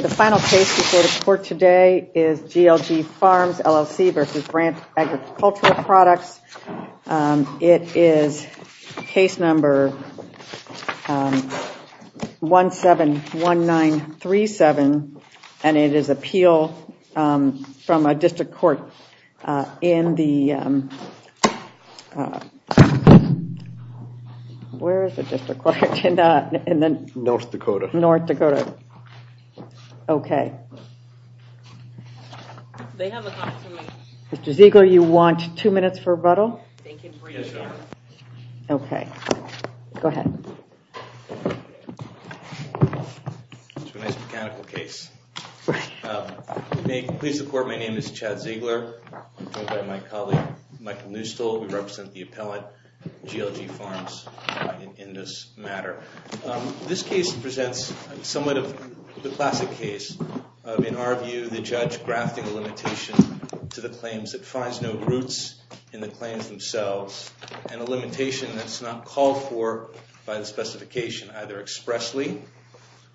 The final case before the court today is GLG Farms LLC v. Brandt Agricultural Products. It is case number 171937 and it is appeal from a district court in North Dakota. Okay, Mr. Ziegler, you want two minutes for rebuttal? Okay, go ahead. May it please the court, my name is Chad Ziegler. I'm joined by my colleague Michael Neustol. We represent the appellate GLG Farms in this matter. This case presents somewhat of the classic case of, in our view, the judge grafting a limitation to the claims that finds no roots in the claims themselves, and a limitation that's not called for by the specification either expressly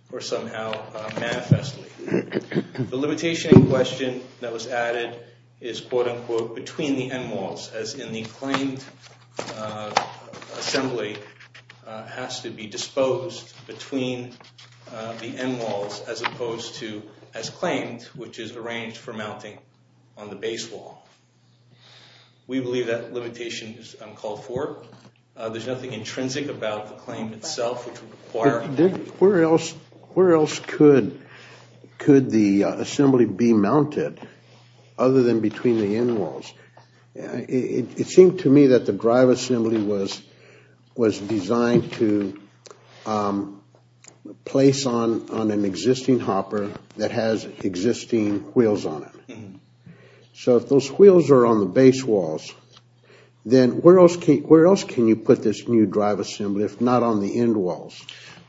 or somehow manifestly. The limitation in question that was added is quote-unquote between the end walls, as in the claimed assembly has to be disposed between the end walls as opposed to as claimed, which is arranged for mounting on the base wall. We believe that limitation is uncalled for. There's nothing intrinsic about the claim itself. Where else could the assembly be mounted other than between the end walls? It seemed to me that the drive assembly was designed to place on an existing hopper that has existing wheels on it. So if those wheels are on the base walls, then where else can you put this new drive assembly if not on the end walls?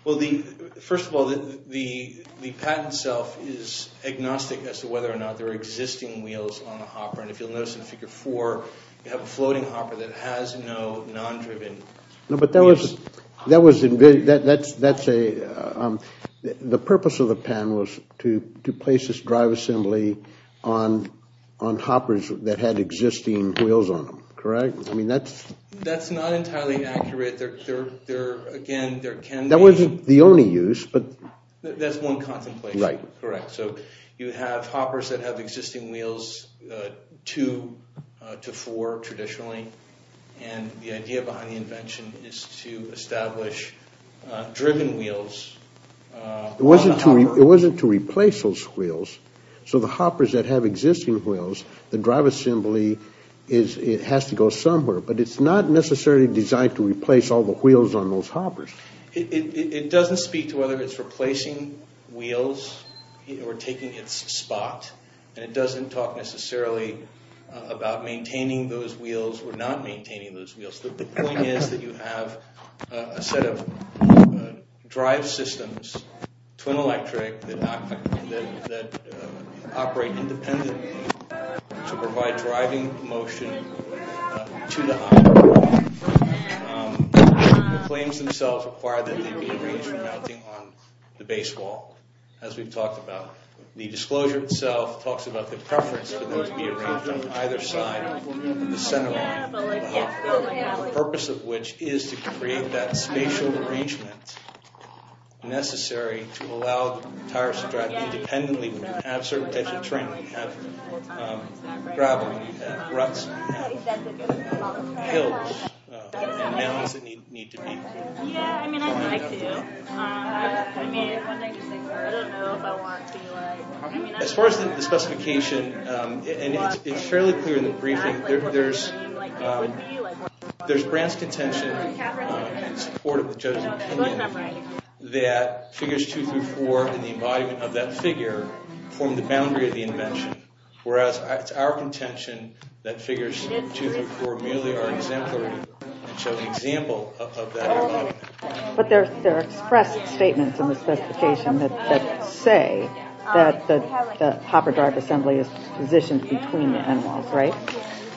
Well, first of all, the patent itself is agnostic as to whether or not there are existing wheels on a hopper. And if you'll notice in Figure 4, you have a floating hopper that has no non-driven wheels. The purpose of the patent was to place this drive assembly on hoppers that had existing wheels on them, correct? That's not entirely accurate. That wasn't the only use. That's one contemplation, correct. So you have hoppers that have existing wheels, two to four traditionally, and the idea behind the invention is to establish driven wheels on the hopper. It wasn't to replace those wheels, so the hoppers that have existing wheels, the drive assembly has to go somewhere. But it's not necessarily designed to replace all the wheels on those hoppers. It doesn't speak to whether it's replacing wheels or taking its spot, and it doesn't talk necessarily about maintaining those wheels or not maintaining those wheels. The point is that you have a set of drive systems, twin electric, that operate independently to provide driving motion to the hopper. The claims themselves require that they be arranged for mounting on the base wall, as we've talked about. The disclosure itself talks about the preference for those to be arranged on either side of the centerline of the hopper, and mounts that need to be. As far as the specification, it's fairly clear in the briefing, there's Brandt's contention in support of the judge's opinion that figures two through four and the embodiment of that figure form the boundary of the invention. Whereas it's our contention that figures two through four merely are exemplary and show an example of that embodiment. But there are expressed statements in the specification that say that the hopper drive assembly is positioned between the end walls, right?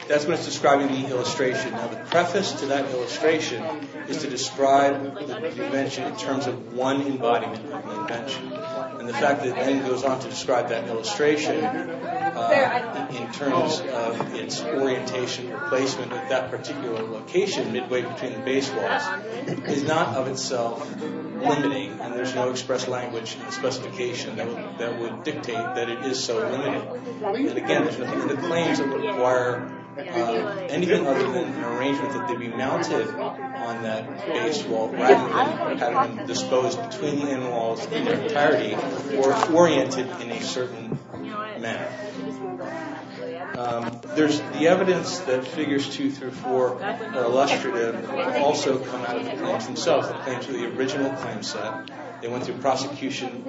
That's what it's describing in the illustration. Now the preface to that illustration is to describe the invention in terms of one embodiment of the invention. And the fact that it then goes on to describe that illustration in terms of its orientation or placement at that particular location, midway between the base walls, is not of itself limiting. And there's no expressed language in the specification that would dictate that it is so limited. And again, it's within the claims that would require anything other than an arrangement that they be mounted on that base wall, disposed between the end walls in their entirety, or oriented in a certain manner. The evidence that figures two through four are illustrative also come out of the claims themselves. The claims are the original claims set. They went through prosecution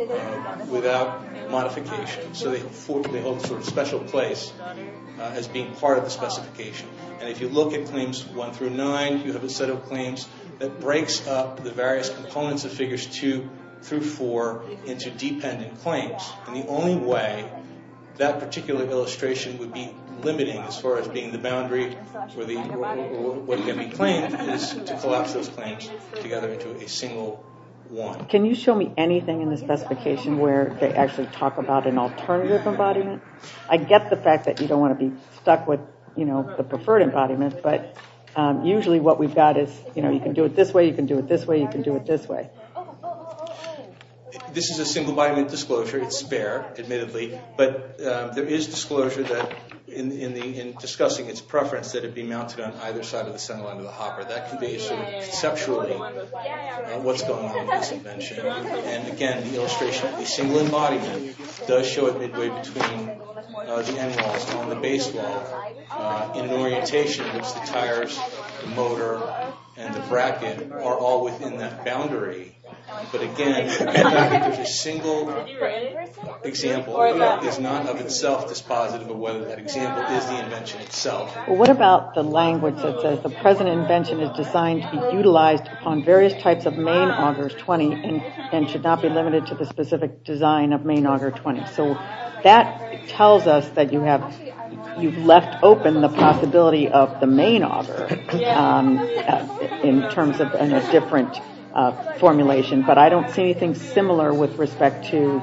without modification. So they hold a sort of special place as being part of the specification. And if you look at claims one through nine, you have a set of claims that breaks up the various components of figures two through four into dependent claims. And the only way that particular illustration would be limiting as far as being the boundary for what can be claimed is to collapse those claims together into a single one. Can you show me anything in the specification where they actually talk about an alternative embodiment? I get the fact that you don't want to be stuck with, you know, the preferred embodiment. But usually what we've got is, you know, you can do it this way, you can do it this way, you can do it this way. This is a single embodiment disclosure. It's spare, admittedly. But there is disclosure that in discussing its preference that it be mounted on either side of the centerline of the hopper. That can be sort of conceptually what's going on in this invention. And again, the illustration of the single embodiment does show it midway between the animals on the base wall in an orientation in which the tires, the motor, and the bracket are all within that boundary. But again, there's a single example that is not of itself dispositive of whether that example is the invention itself. What about the language that says the present invention is designed to be utilized on various types of main augers 20 and should not be limited to the specific design of main auger 20? So that tells us that you have, you've left open the possibility of the main auger in terms of a different formulation. But I don't see anything similar with respect to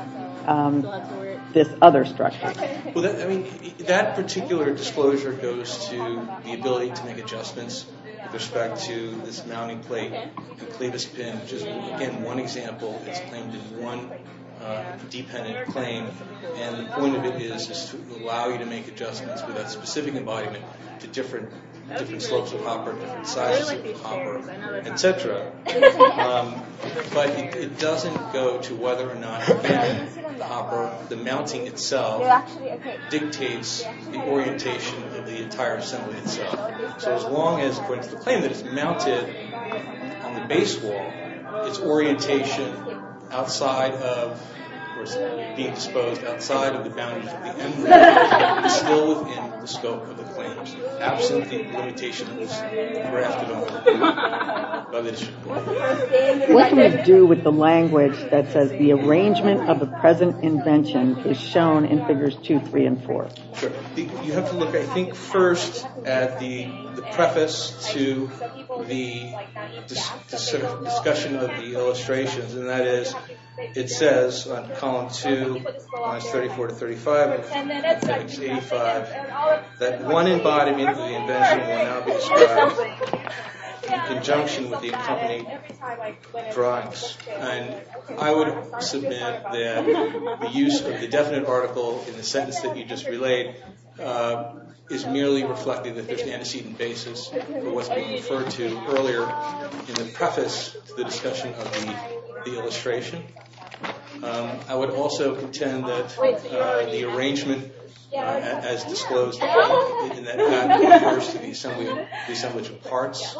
this other structure. That particular disclosure goes to the ability to make adjustments with respect to this mounting plate and clevis pin. Again, one example is claimed in one dependent claim. And the point of it is to allow you to make adjustments with that specific embodiment to different slopes of hopper, different sizes of hopper, etc. But it doesn't go to whether or not the mounting itself dictates the orientation of the entire assembly itself. So as long as the claim is mounted on the base wall, its orientation outside of, or is being exposed outside of the boundaries of the emblem is still within the scope of the claims. Absent the limitation that was drafted on by the district court. What can we do with the language that says the arrangement of the present invention is shown in figures 2, 3, and 4? You have to look, I think, first at the preface to the discussion of the illustrations. And that is, it says on column 2, lines 34 to 35, that one embodiment of the invention will now be described in conjunction with the accompanying drawings. And I would submit that the use of the definite article in the sentence that you just relayed is merely reflecting the antecedent basis of what's being referred to earlier in the preface to the discussion of the illustration. I would also contend that the arrangement as disclosed in that document refers to the assembly of parts.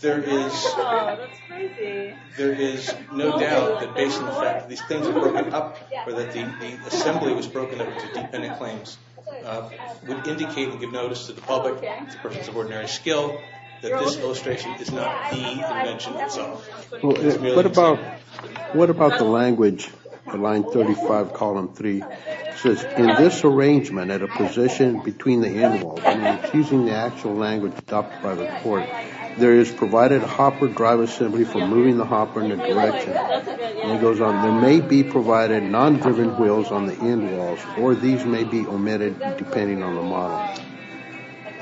There is no doubt that based on the fact that these things were broken up, or that the assembly was broken up into dependent claims, would indicate and give notice to the public, as a person of ordinary skill, that this illustration is not the invention itself. What about the language on line 35, column 3? It says, in this arrangement, at a position between the end walls, and it's using the actual language adopted by the court, there is provided a hopper drive assembly for moving the hopper in a direction. And it goes on, there may be provided non-driven wheels on the end walls, or these may be omitted depending on the model.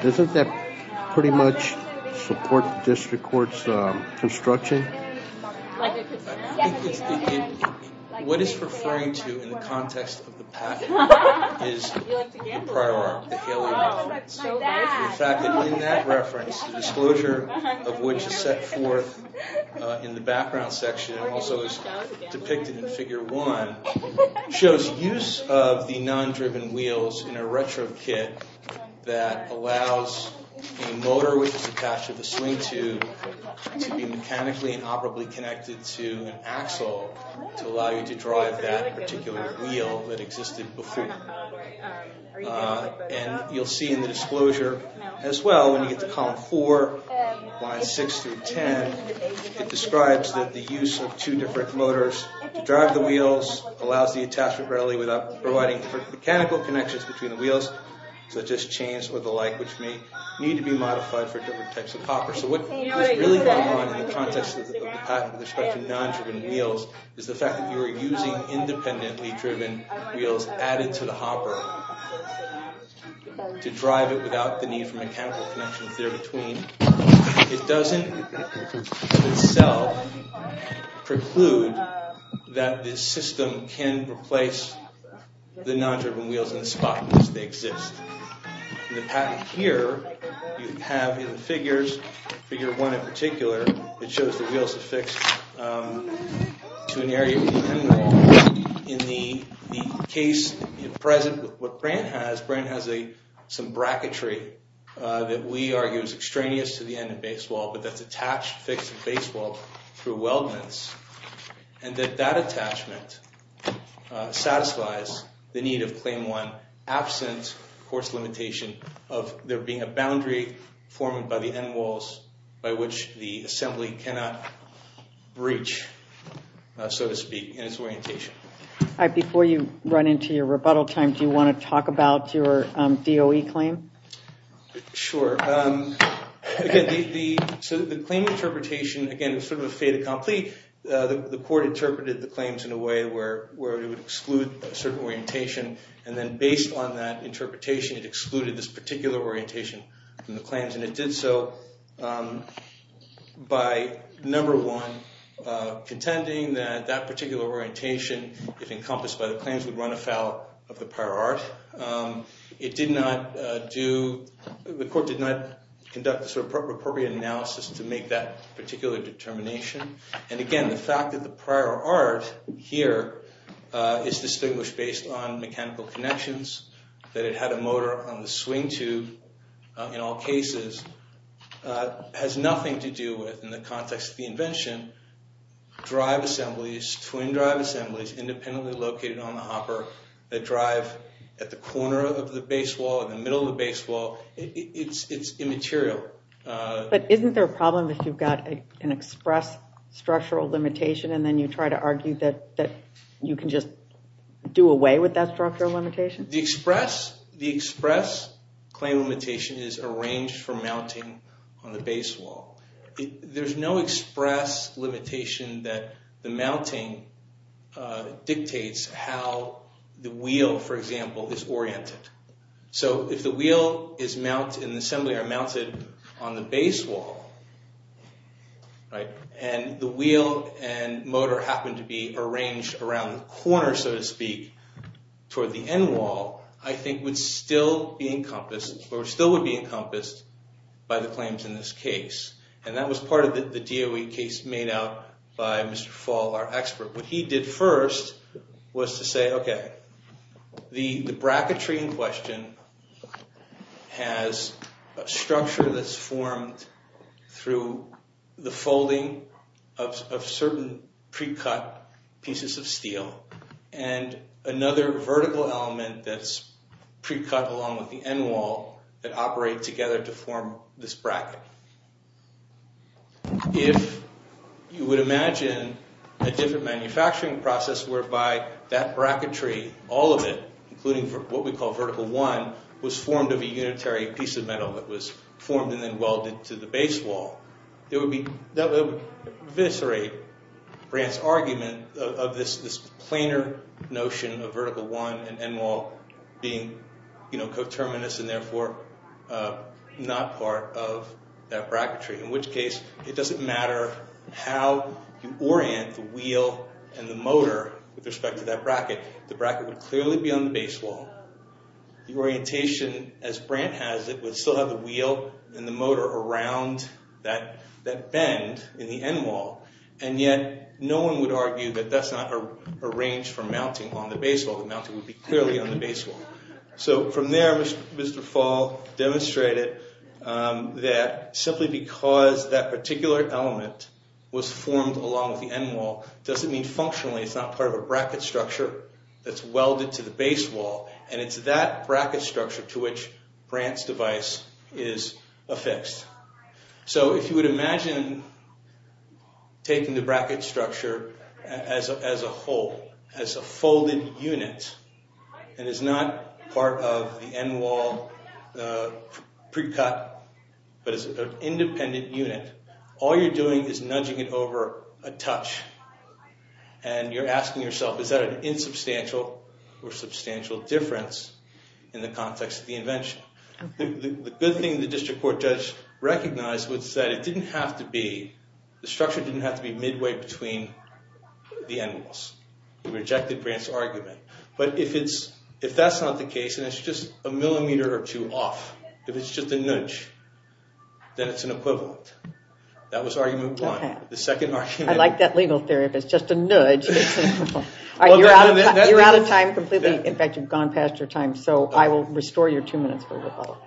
Doesn't that pretty much support the district court's construction? What it's referring to in the context of the package is the prior article, the Haley reference. The fact that in that reference, the disclosure of which is set forth in the background section, and also is depicted in figure 1, shows use of the non-driven wheels in a retro kit that allows a motor which is attached to the swing tube to be mechanically and operably connected to an axle to allow you to drive that particular wheel that existed before. And you'll see in the disclosure as well, when you get to column 4, lines 6 through 10, it describes the use of two different motors to drive the wheels, allows the attachment readily without providing mechanical connections between the wheels, such as chains or the like, which may need to be modified for different types of hoppers. So what is really going on in the context of the package with respect to non-driven wheels is the fact that you are using independently driven wheels added to the hopper to drive it without the need for mechanical connections there between. It doesn't in itself preclude that this system can replace the non-driven wheels in the spot where they exist. In the patent here, you have in the figures, figure 1 in particular, it shows the wheels affixed to an area independently driven. In the case present, what Brandt has, Brandt has some bracketry that we argue is extraneous to the end and base wall, but that's attached, fixed to the base wall through weldments. And that that attachment satisfies the need of claim 1 absent course limitation of there being a boundary formed by the end walls by which the assembly cannot breach, so to speak, in its orientation. Before you run into your rebuttal time, do you want to talk about your DOE claim? Sure. The claim interpretation, again, is sort of a fait accompli. The court interpreted the claims in a way where it would exclude a certain orientation, and then based on that interpretation, it excluded this particular orientation from the claims. And it did so by, number one, contending that that particular orientation, if encompassed by the claims, would run afoul of the prior art. It did not do, the court did not conduct a sort of appropriate analysis to make that particular determination. And again, the fact that the prior art here is distinguished based on mechanical connections, that it had a motor on the swing tube in all cases, has nothing to do with, in the context of the invention, drive assemblies, twin drive assemblies independently located on the hopper. They drive at the corner of the base wall, in the middle of the base wall. It's immaterial. But isn't there a problem if you've got an express structural limitation and then you try to argue that you can just do away with that structural limitation? The express claim limitation is arranged for mounting on the base wall. There's no express limitation that the mounting dictates how the wheel, for example, is oriented. So if the wheel is mounted in the assembly or mounted on the base wall, and the wheel and motor happen to be arranged around the corner, so to speak, toward the end wall, I think would still be encompassed, or still would be encompassed by the claims in this case. And that was part of the DOE case made out by Mr. Fall, our expert. What he did first was to say, okay, the bracketry in question has a structure that's formed through the folding of certain pre-cut pieces of steel and another vertical element that's pre-cut along with the end wall that operate together to form this bracket. If you would imagine a different manufacturing process whereby that bracketry, all of it, including what we call vertical one, was formed of a unitary piece of metal that was formed and then welded to the base wall, that would eviscerate Brandt's argument of this planar notion of vertical one and end wall being coterminous and therefore not part of that bracketry. In which case, it doesn't matter how you orient the wheel and the motor with respect to that bracket. The bracket would clearly be on the base wall. The orientation, as Brandt has it, would still have the wheel and the motor around that bend in the end wall. And yet, no one would argue that that's not a range for mounting on the base wall. The mounting would be clearly on the base wall. From there, Mr. Fall demonstrated that simply because that particular element was formed along with the end wall doesn't mean functionally it's not part of a bracket structure that's welded to the base wall. And it's that bracket structure to which Brandt's device is affixed. So if you would imagine taking the bracket structure as a whole, as a folded unit, and is not part of the end wall pre-cut, but is an independent unit, all you're doing is nudging it over a touch. And you're asking yourself, is that an insubstantial or substantial difference in the context of the invention? The good thing the district court judge recognized was that it didn't have to be, the structure didn't have to be midway between the end walls. He rejected Brandt's argument. But if that's not the case and it's just a millimeter or two off, if it's just a nudge, then it's an equivalent. That was argument one. I like that legal theory, if it's just a nudge, it's an equivalent. You're out of time completely. In fact, you've gone past your time. So I will restore your two minutes for rebuttal.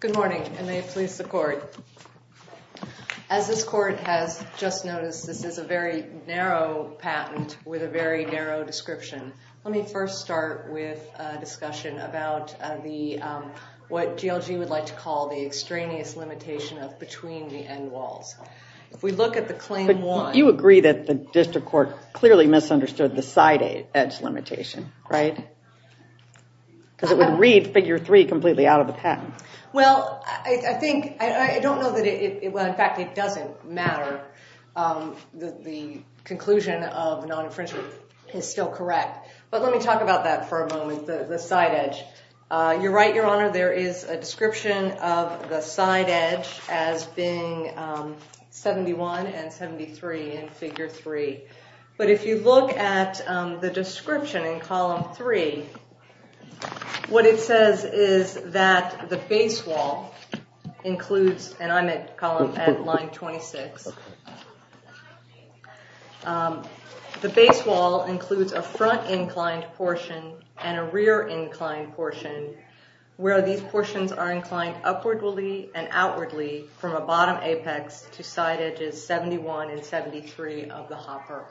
Good morning, and may it please the court. As this court has just noticed, this is a very narrow patent with a very narrow description. Let me first start with a discussion about what GLG would like to call the extraneous limitation of between the end walls. If we look at the claim one. You agree that the district court clearly misunderstood the side edge limitation, right? Because it would read figure three completely out of the patent. Well, I think, I don't know that it, well, in fact, it doesn't matter. The conclusion of non-infringement is still correct. But let me talk about that for a moment, the side edge. You're right, Your Honor, there is a description of the side edge as being 71 and 73 in figure three. But if you look at the description in column three, what it says is that the base wall includes, and I'm at column, at line 26. The base wall includes a front inclined portion and a rear inclined portion where these portions are inclined upwardly and outwardly from a bottom apex to side edges 71 and 73 of the hopper.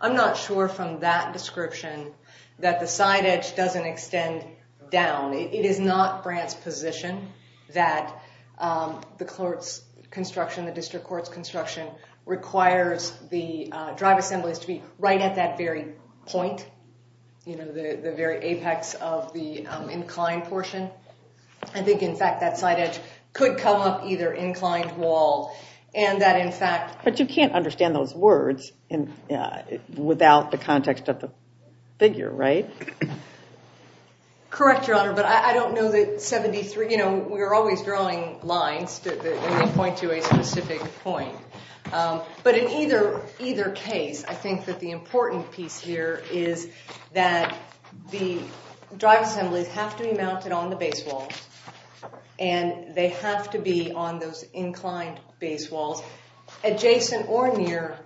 I'm not sure from that description that the side edge doesn't extend down. It is not Brandt's position that the court's construction, the district court's construction requires the drive assemblies to be right at that very point. You know, the very apex of the inclined portion. I think, in fact, that side edge could come up either inclined wall and that, in fact. But you can't understand those words without the context of the figure, right? Correct, Your Honor, but I don't know that 73, you know, we're always drawing lines that point to a specific point. But in either case, I think that the important piece here is that the drive assemblies have to be mounted on the base wall. And they have to be on those inclined base walls adjacent or near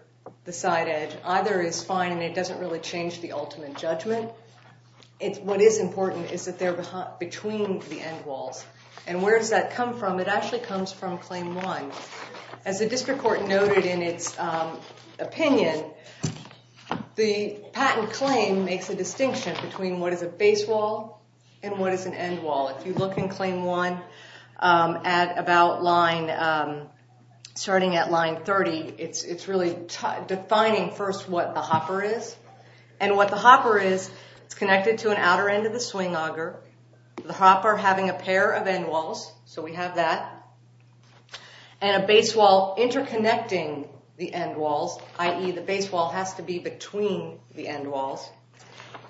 the side edge. Either is fine and it doesn't really change the ultimate judgment. What is important is that they're between the end walls. And where does that come from? It actually comes from claim one. As the district court noted in its opinion, the patent claim makes a distinction between what is a base wall and what is an end wall. If you look in claim one at about line, starting at line 30, it's really defining first what the hopper is. And what the hopper is, it's connected to an outer end of the swing auger. The hopper having a pair of end walls, so we have that. And a base wall interconnecting the end walls, i.e. the base wall has to be between the end walls.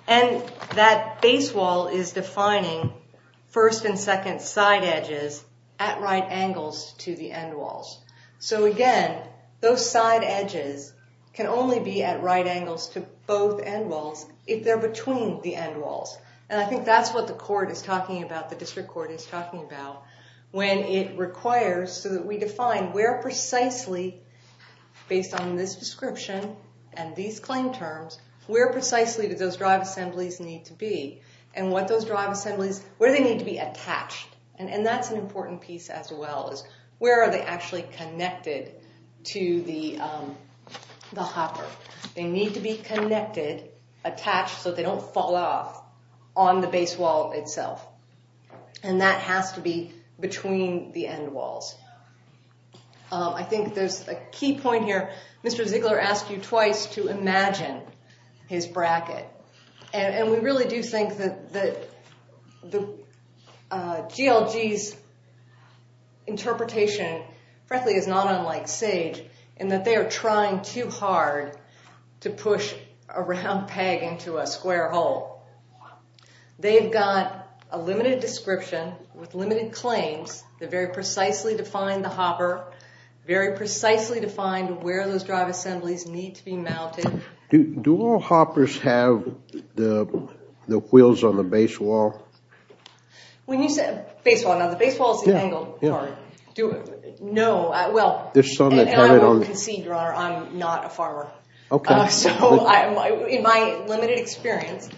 And that base wall is defining first and second side edges at right angles to the end walls. So again, those side edges can only be at right angles to both end walls if they're between the end walls. And I think that's what the court is talking about, the district court is talking about. When it requires, so that we define where precisely, based on this description and these claim terms, where precisely do those drive assemblies need to be? And what those drive assemblies, where do they need to be attached? And that's an important piece as well, is where are they actually connected to the hopper? They need to be connected, attached, so they don't fall off on the base wall itself. And that has to be between the end walls. I think there's a key point here, Mr. Ziegler asked you twice to imagine his bracket. And we really do think that GLG's interpretation, frankly, is not unlike Sage, in that they are trying too hard to push a round peg into a square hole. They've got a limited description with limited claims that very precisely define the hopper, very precisely define where those drive assemblies need to be mounted. Do all hoppers have the wheels on the base wall? Base wall, now the base wall is the angled part. No, well, and I won't concede, Your Honor, I'm not a farmer. So in my limited experience,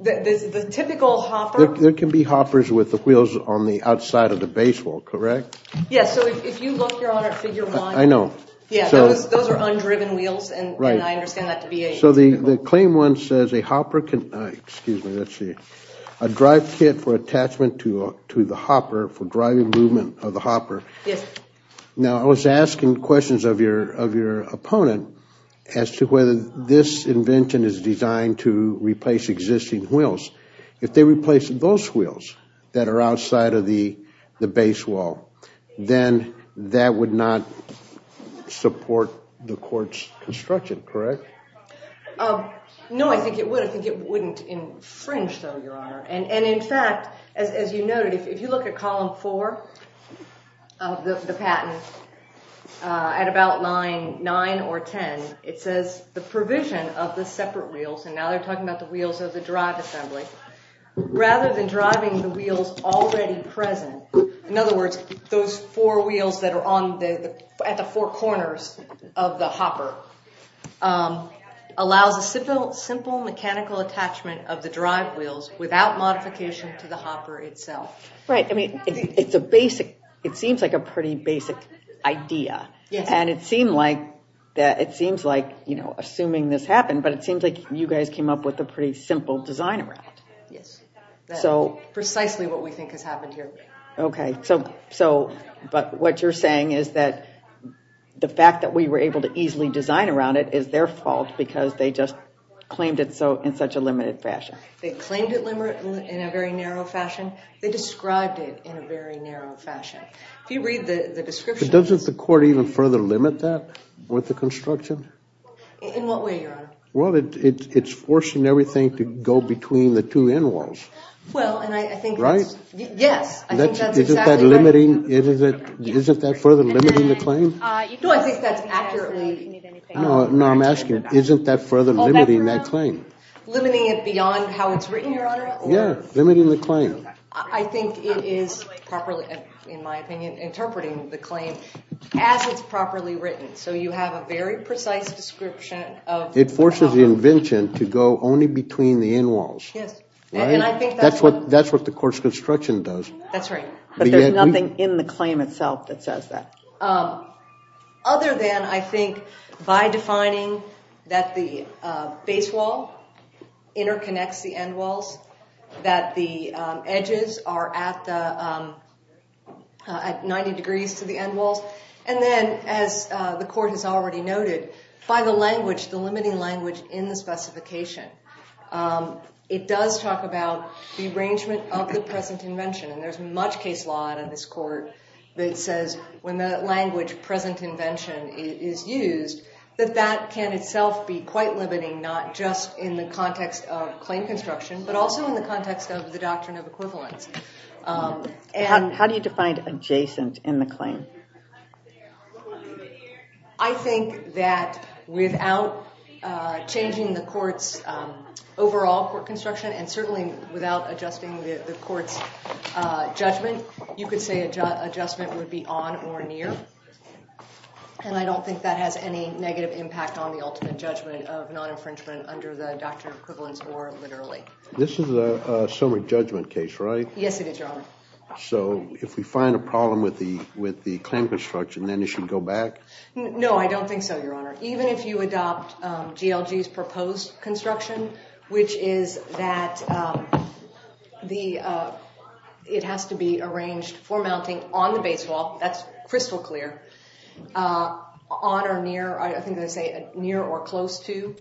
the typical hopper... There can be hoppers with the wheels on the outside of the base wall, correct? Yes, so if you look, Your Honor, at figure one... I know. Yeah, those are undriven wheels, and I understand that to be a typical... So the claim one says a hopper can, excuse me, let's see, a drive kit for attachment to the hopper, for driving movement of the hopper. Yes. Now, I was asking questions of your opponent as to whether this invention is designed to replace existing wheels. If they replace those wheels that are outside of the base wall, then that would not support the court's construction, correct? No, I think it would. I think it wouldn't infringe, though, Your Honor. And in fact, as you noted, if you look at column four of the patent, at about line nine or ten, it says the provision of the separate wheels, and now they're talking about the wheels of the drive assembly, rather than driving the wheels already present, in other words, those four wheels that are at the four corners of the hopper, allows a simple mechanical attachment of the drive wheels without modification to the hopper itself. Right. I mean, it seems like a pretty basic idea. Yes. And it seems like, assuming this happened, but it seems like you guys came up with a pretty simple design around it. Yes. So... Precisely what we think has happened here. Okay. So, but what you're saying is that the fact that we were able to easily design around it is their fault, because they just claimed it in such a limited fashion. They claimed it in a very narrow fashion. They described it in a very narrow fashion. If you read the description... But doesn't the court even further limit that with the construction? In what way, Your Honor? Well, it's forcing everything to go between the two end walls. Well, and I think... Right? Yes. I think that's exactly right. Isn't that further limiting the claim? No, I think that's accurately... No, I'm asking, isn't that further limiting that claim? Limiting it beyond how it's written, Your Honor? Yeah. Limiting the claim. I think it is properly, in my opinion, interpreting the claim as it's properly written. So you have a very precise description of... It forces the invention to go only between the end walls. Yes. And I think that's what... That's what the court's construction does. That's right. But there's nothing in the claim itself that says that. Other than, I think, by defining that the base wall interconnects the end walls, that the edges are at 90 degrees to the end walls, and then, as the court has already noted, by the language, the limiting language in the specification, it does talk about the arrangement of the present invention. And there's much case law out of this court that says, when the language present invention is used, that that can itself be quite limiting, not just in the context of claim construction, but also in the context of the doctrine of equivalence. How do you define adjacent in the claim? I think that without changing the court's overall court construction, and certainly without adjusting the court's judgment, you could say adjustment would be on or near. And I don't think that has any negative impact on the ultimate judgment of non-infringement under the doctrine of equivalence or literally. This is a summary judgment case, right? Yes, it is, Your Honor. So if we find a problem with the claim construction, then it should go back? No, I don't think so, Your Honor. Even if you adopt GLG's proposed construction, which is that it has to be arranged for mounting on the base wall, that's crystal clear, on or near, I think they say near or close to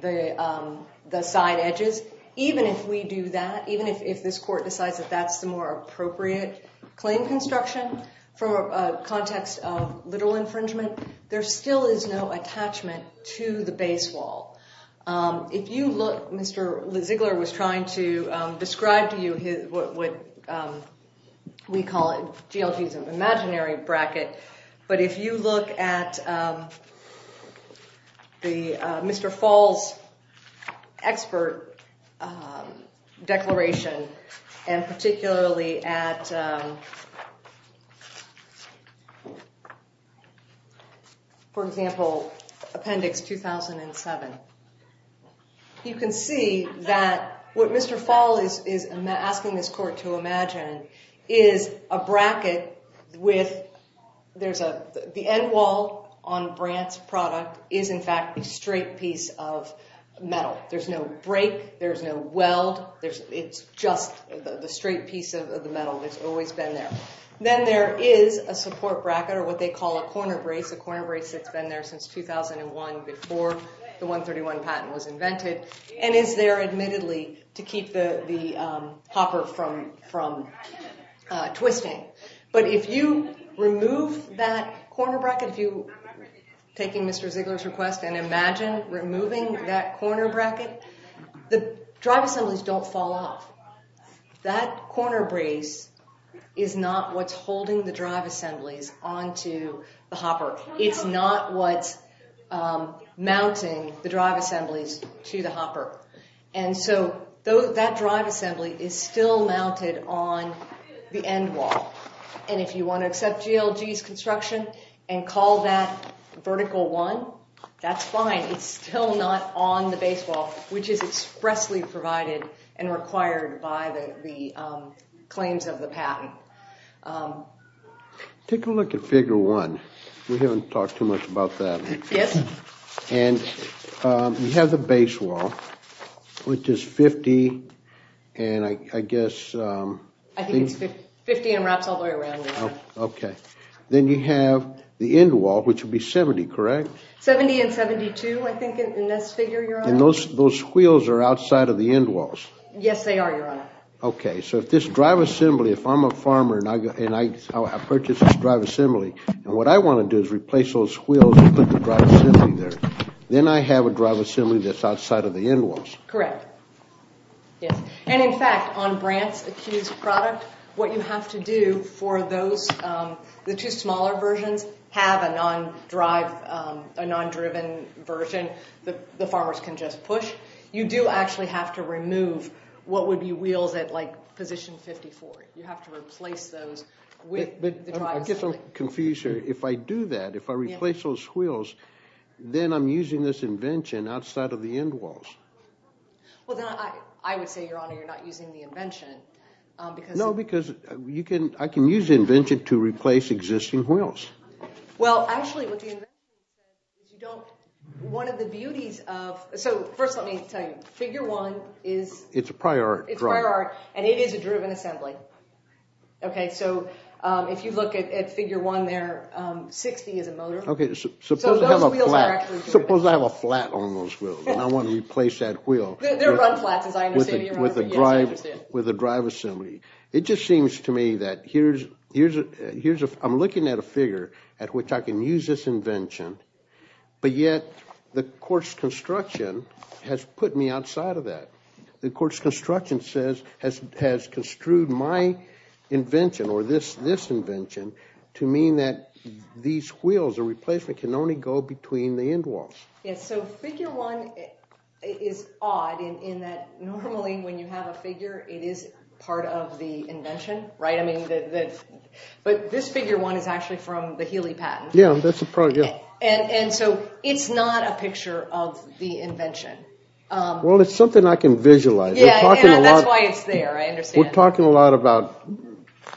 the side edges. Even if we do that, even if this court decides that that's the more appropriate claim construction for a context of literal infringement, there still is no attachment to the base wall. If you look, Mr. Ziegler was trying to describe to you what we call GLG's imaginary bracket, but if you look at Mr. Fall's expert declaration and particularly at, for example, Appendix 2007, you can see that what Mr. Fall is asking this court to imagine is a bracket with the end wall on Brandt's product is in fact a straight piece of metal. There's no break, there's no weld, it's just the straight piece of the metal that's always been there. Then there is a support bracket or what they call a corner brace, a corner brace that's been there since 2001 before the 131 patent was invented and is there admittedly to keep the hopper from twisting. But if you remove that corner bracket, if you're taking Mr. Ziegler's request and imagine removing that corner bracket, the drive assemblies don't fall off. That corner brace is not what's holding the drive assemblies onto the hopper. It's not what's mounting the drive assemblies to the hopper. And so that drive assembly is still mounted on the end wall. And if you want to accept GLG's construction and call that vertical one, that's fine. It's still not on the base wall, which is expressly provided and required by the claims of the patent. Take a look at Figure 1. We haven't talked too much about that. Yes. And you have the base wall, which is 50 and I guess I think it's 50 and wraps all the way around. Okay. Then you have the end wall, which would be 70, correct? 70 and 72, I think, in this figure, Your Honor. And those wheels are outside of the end walls? Yes, they are, Your Honor. Okay, so if this drive assembly, if I'm a farmer and I purchase this drive assembly, and what I want to do is replace those wheels and put the drive assembly there, then I have a drive assembly that's outside of the end walls. Correct. Yes. And, in fact, on Brandt's accused product, what you have to do for those, the two smaller versions have a non-drive, a non-driven version that the farmers can just push. You do actually have to remove what would be wheels at, like, position 54. You have to replace those with the drive assembly. I'm getting confused here. If I do that, if I replace those wheels, then I'm using this invention outside of the end walls. Well, then I would say, Your Honor, you're not using the invention. No, because I can use the invention to replace existing wheels. Well, actually, what the invention does is you don't, one of the beauties of, so first let me tell you, figure one is, It's a prior art. It's prior art, and it is a driven assembly. Okay, so if you look at figure one there, 60 is a motor. Okay, suppose I have a flat on those wheels, and I want to replace that wheel with a drive assembly. It just seems to me that here's, I'm looking at a figure at which I can use this invention, but yet the court's construction has put me outside of that. The court's construction has construed my invention or this invention to mean that these wheels, the replacement, can only go between the end walls. Yes, so figure one is odd in that normally when you have a figure, it is part of the invention, right? I mean, but this figure one is actually from the Healy patent. Yeah, that's a prior, yeah. And so it's not a picture of the invention. Well, it's something I can visualize. Yeah, that's why it's there, I understand. We're talking a lot about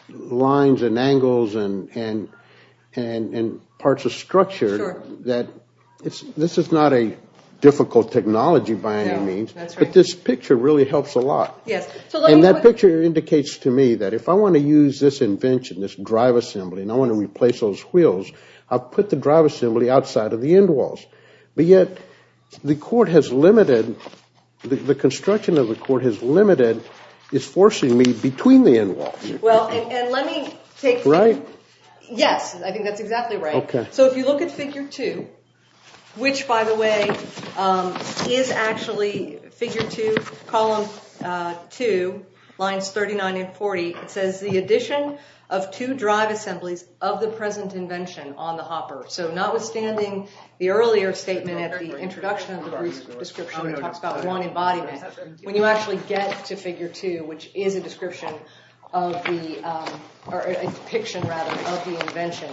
lines and angles and parts of structure. Sure. This is not a difficult technology by any means, but this picture really helps a lot. Yes, so let me put And that picture indicates to me that if I want to use this invention, this drive assembly, and I want to replace those wheels, I'll put the drive assembly outside of the end walls. But yet the court has limited, the construction of the court has limited, is forcing me between the end walls. Well, and let me take Right? Yes, I think that's exactly right. Okay. So if you look at figure two, which, by the way, is actually figure two, column two, lines 39 and 40, it says the addition of two drive assemblies of the present invention on the hopper. So notwithstanding the earlier statement at the introduction of the brief description that talks about one embodiment, when you actually get to figure two, which is a description of the, or a depiction rather, of the invention,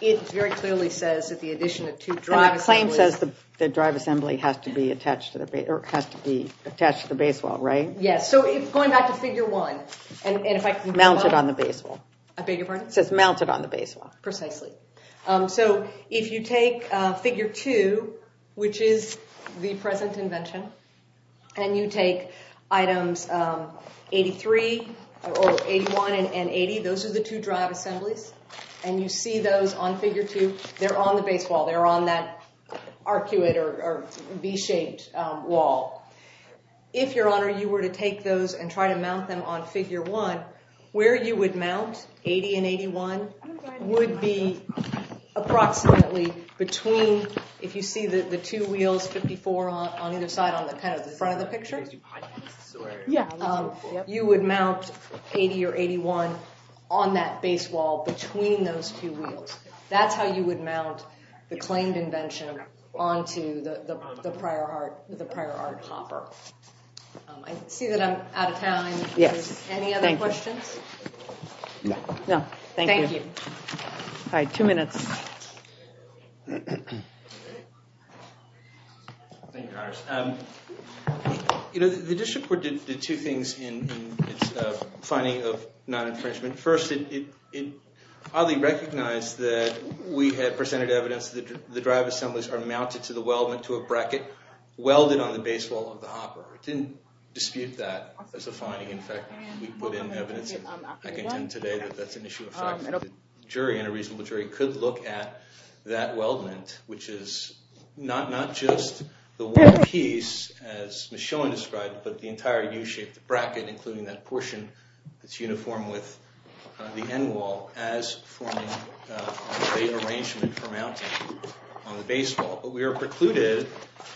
it very clearly says that the addition of two drive assemblies And the claim says the drive assembly has to be attached to the base, or has to be attached to the base wall, right? Yes, so going back to figure one, and if I can Mounted on the base wall. I beg your pardon? It says mounted on the base wall. Precisely. So if you take figure two, which is the present invention, and you take items 83 or 81 and 80, those are the two drive assemblies, and you see those on figure two, they're on the base wall. They're on that arcuate or V-shaped wall. If, your honor, you were to take those and try to mount them on figure one, where you would mount 80 and 81 would be approximately between, if you see the two wheels, 54 on either side, on kind of the front of the picture, you would mount 80 or 81 on that base wall between those two wheels. That's how you would mount the claimed invention onto the prior art hopper. I see that I'm out of time. Yes, thank you. Any other questions? No. No, thank you. Thank you. All right, two minutes. Thank you, Congress. You know, the district court did two things in its finding of non-infringement. First, it oddly recognized that we had presented evidence that the drive assemblies are mounted to a bracket welded on the base wall of the hopper. It didn't dispute that as a finding. In fact, we put in evidence, and I contend today that that's an issue of fact. The jury, and a reasonable jury, could look at that weldment, which is not just the one piece, as Ms. Schilling described, but the entire U-shaped bracket, including that portion that's uniform with the end wall, as forming a great arrangement for mounting on the base wall. But we were precluded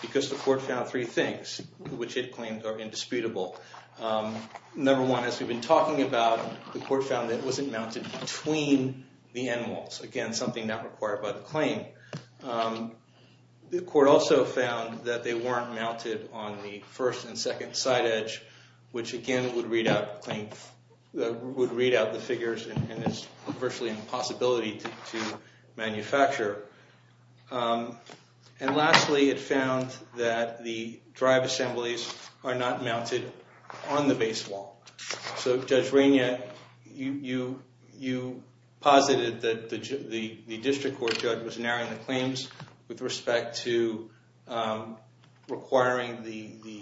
because the court found three things, which it claimed are indisputable. Number one, as we've been talking about, the court found that it wasn't mounted between the end walls. Again, something not required by the claim. The court also found that they weren't mounted on the first and second side edge, which, again, would read out the figures and is virtually an impossibility to manufacture. And lastly, it found that the drive assemblies are not mounted on the base wall. So, Judge Rainier, you posited that the district court judge was narrowing the claims with respect to requiring the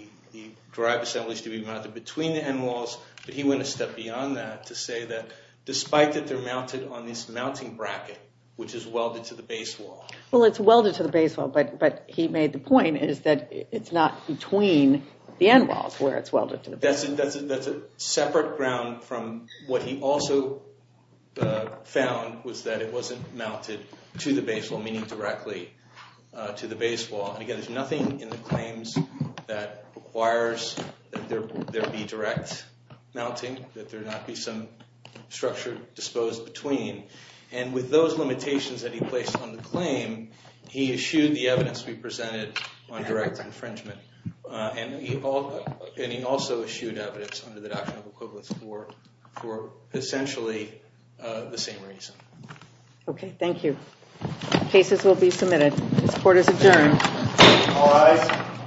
drive assemblies to be mounted between the end walls. But he went a step beyond that to say that, despite that they're mounted on this mounting bracket, which is welded to the base wall. Well, it's welded to the base wall, but he made the point is that it's not between the end walls where it's welded to the base wall. That's a separate ground from what he also found was that it wasn't mounted to the base wall, meaning directly to the base wall. And again, there's nothing in the claims that requires that there be direct mounting, that there not be some structure disposed between. And with those limitations that he placed on the claim, he eschewed the evidence we presented on direct infringement. And he also eschewed evidence under the adoption of equivalence court for essentially the same reason. OK. Thank you. Cases will be submitted. This court is adjourned. All rise.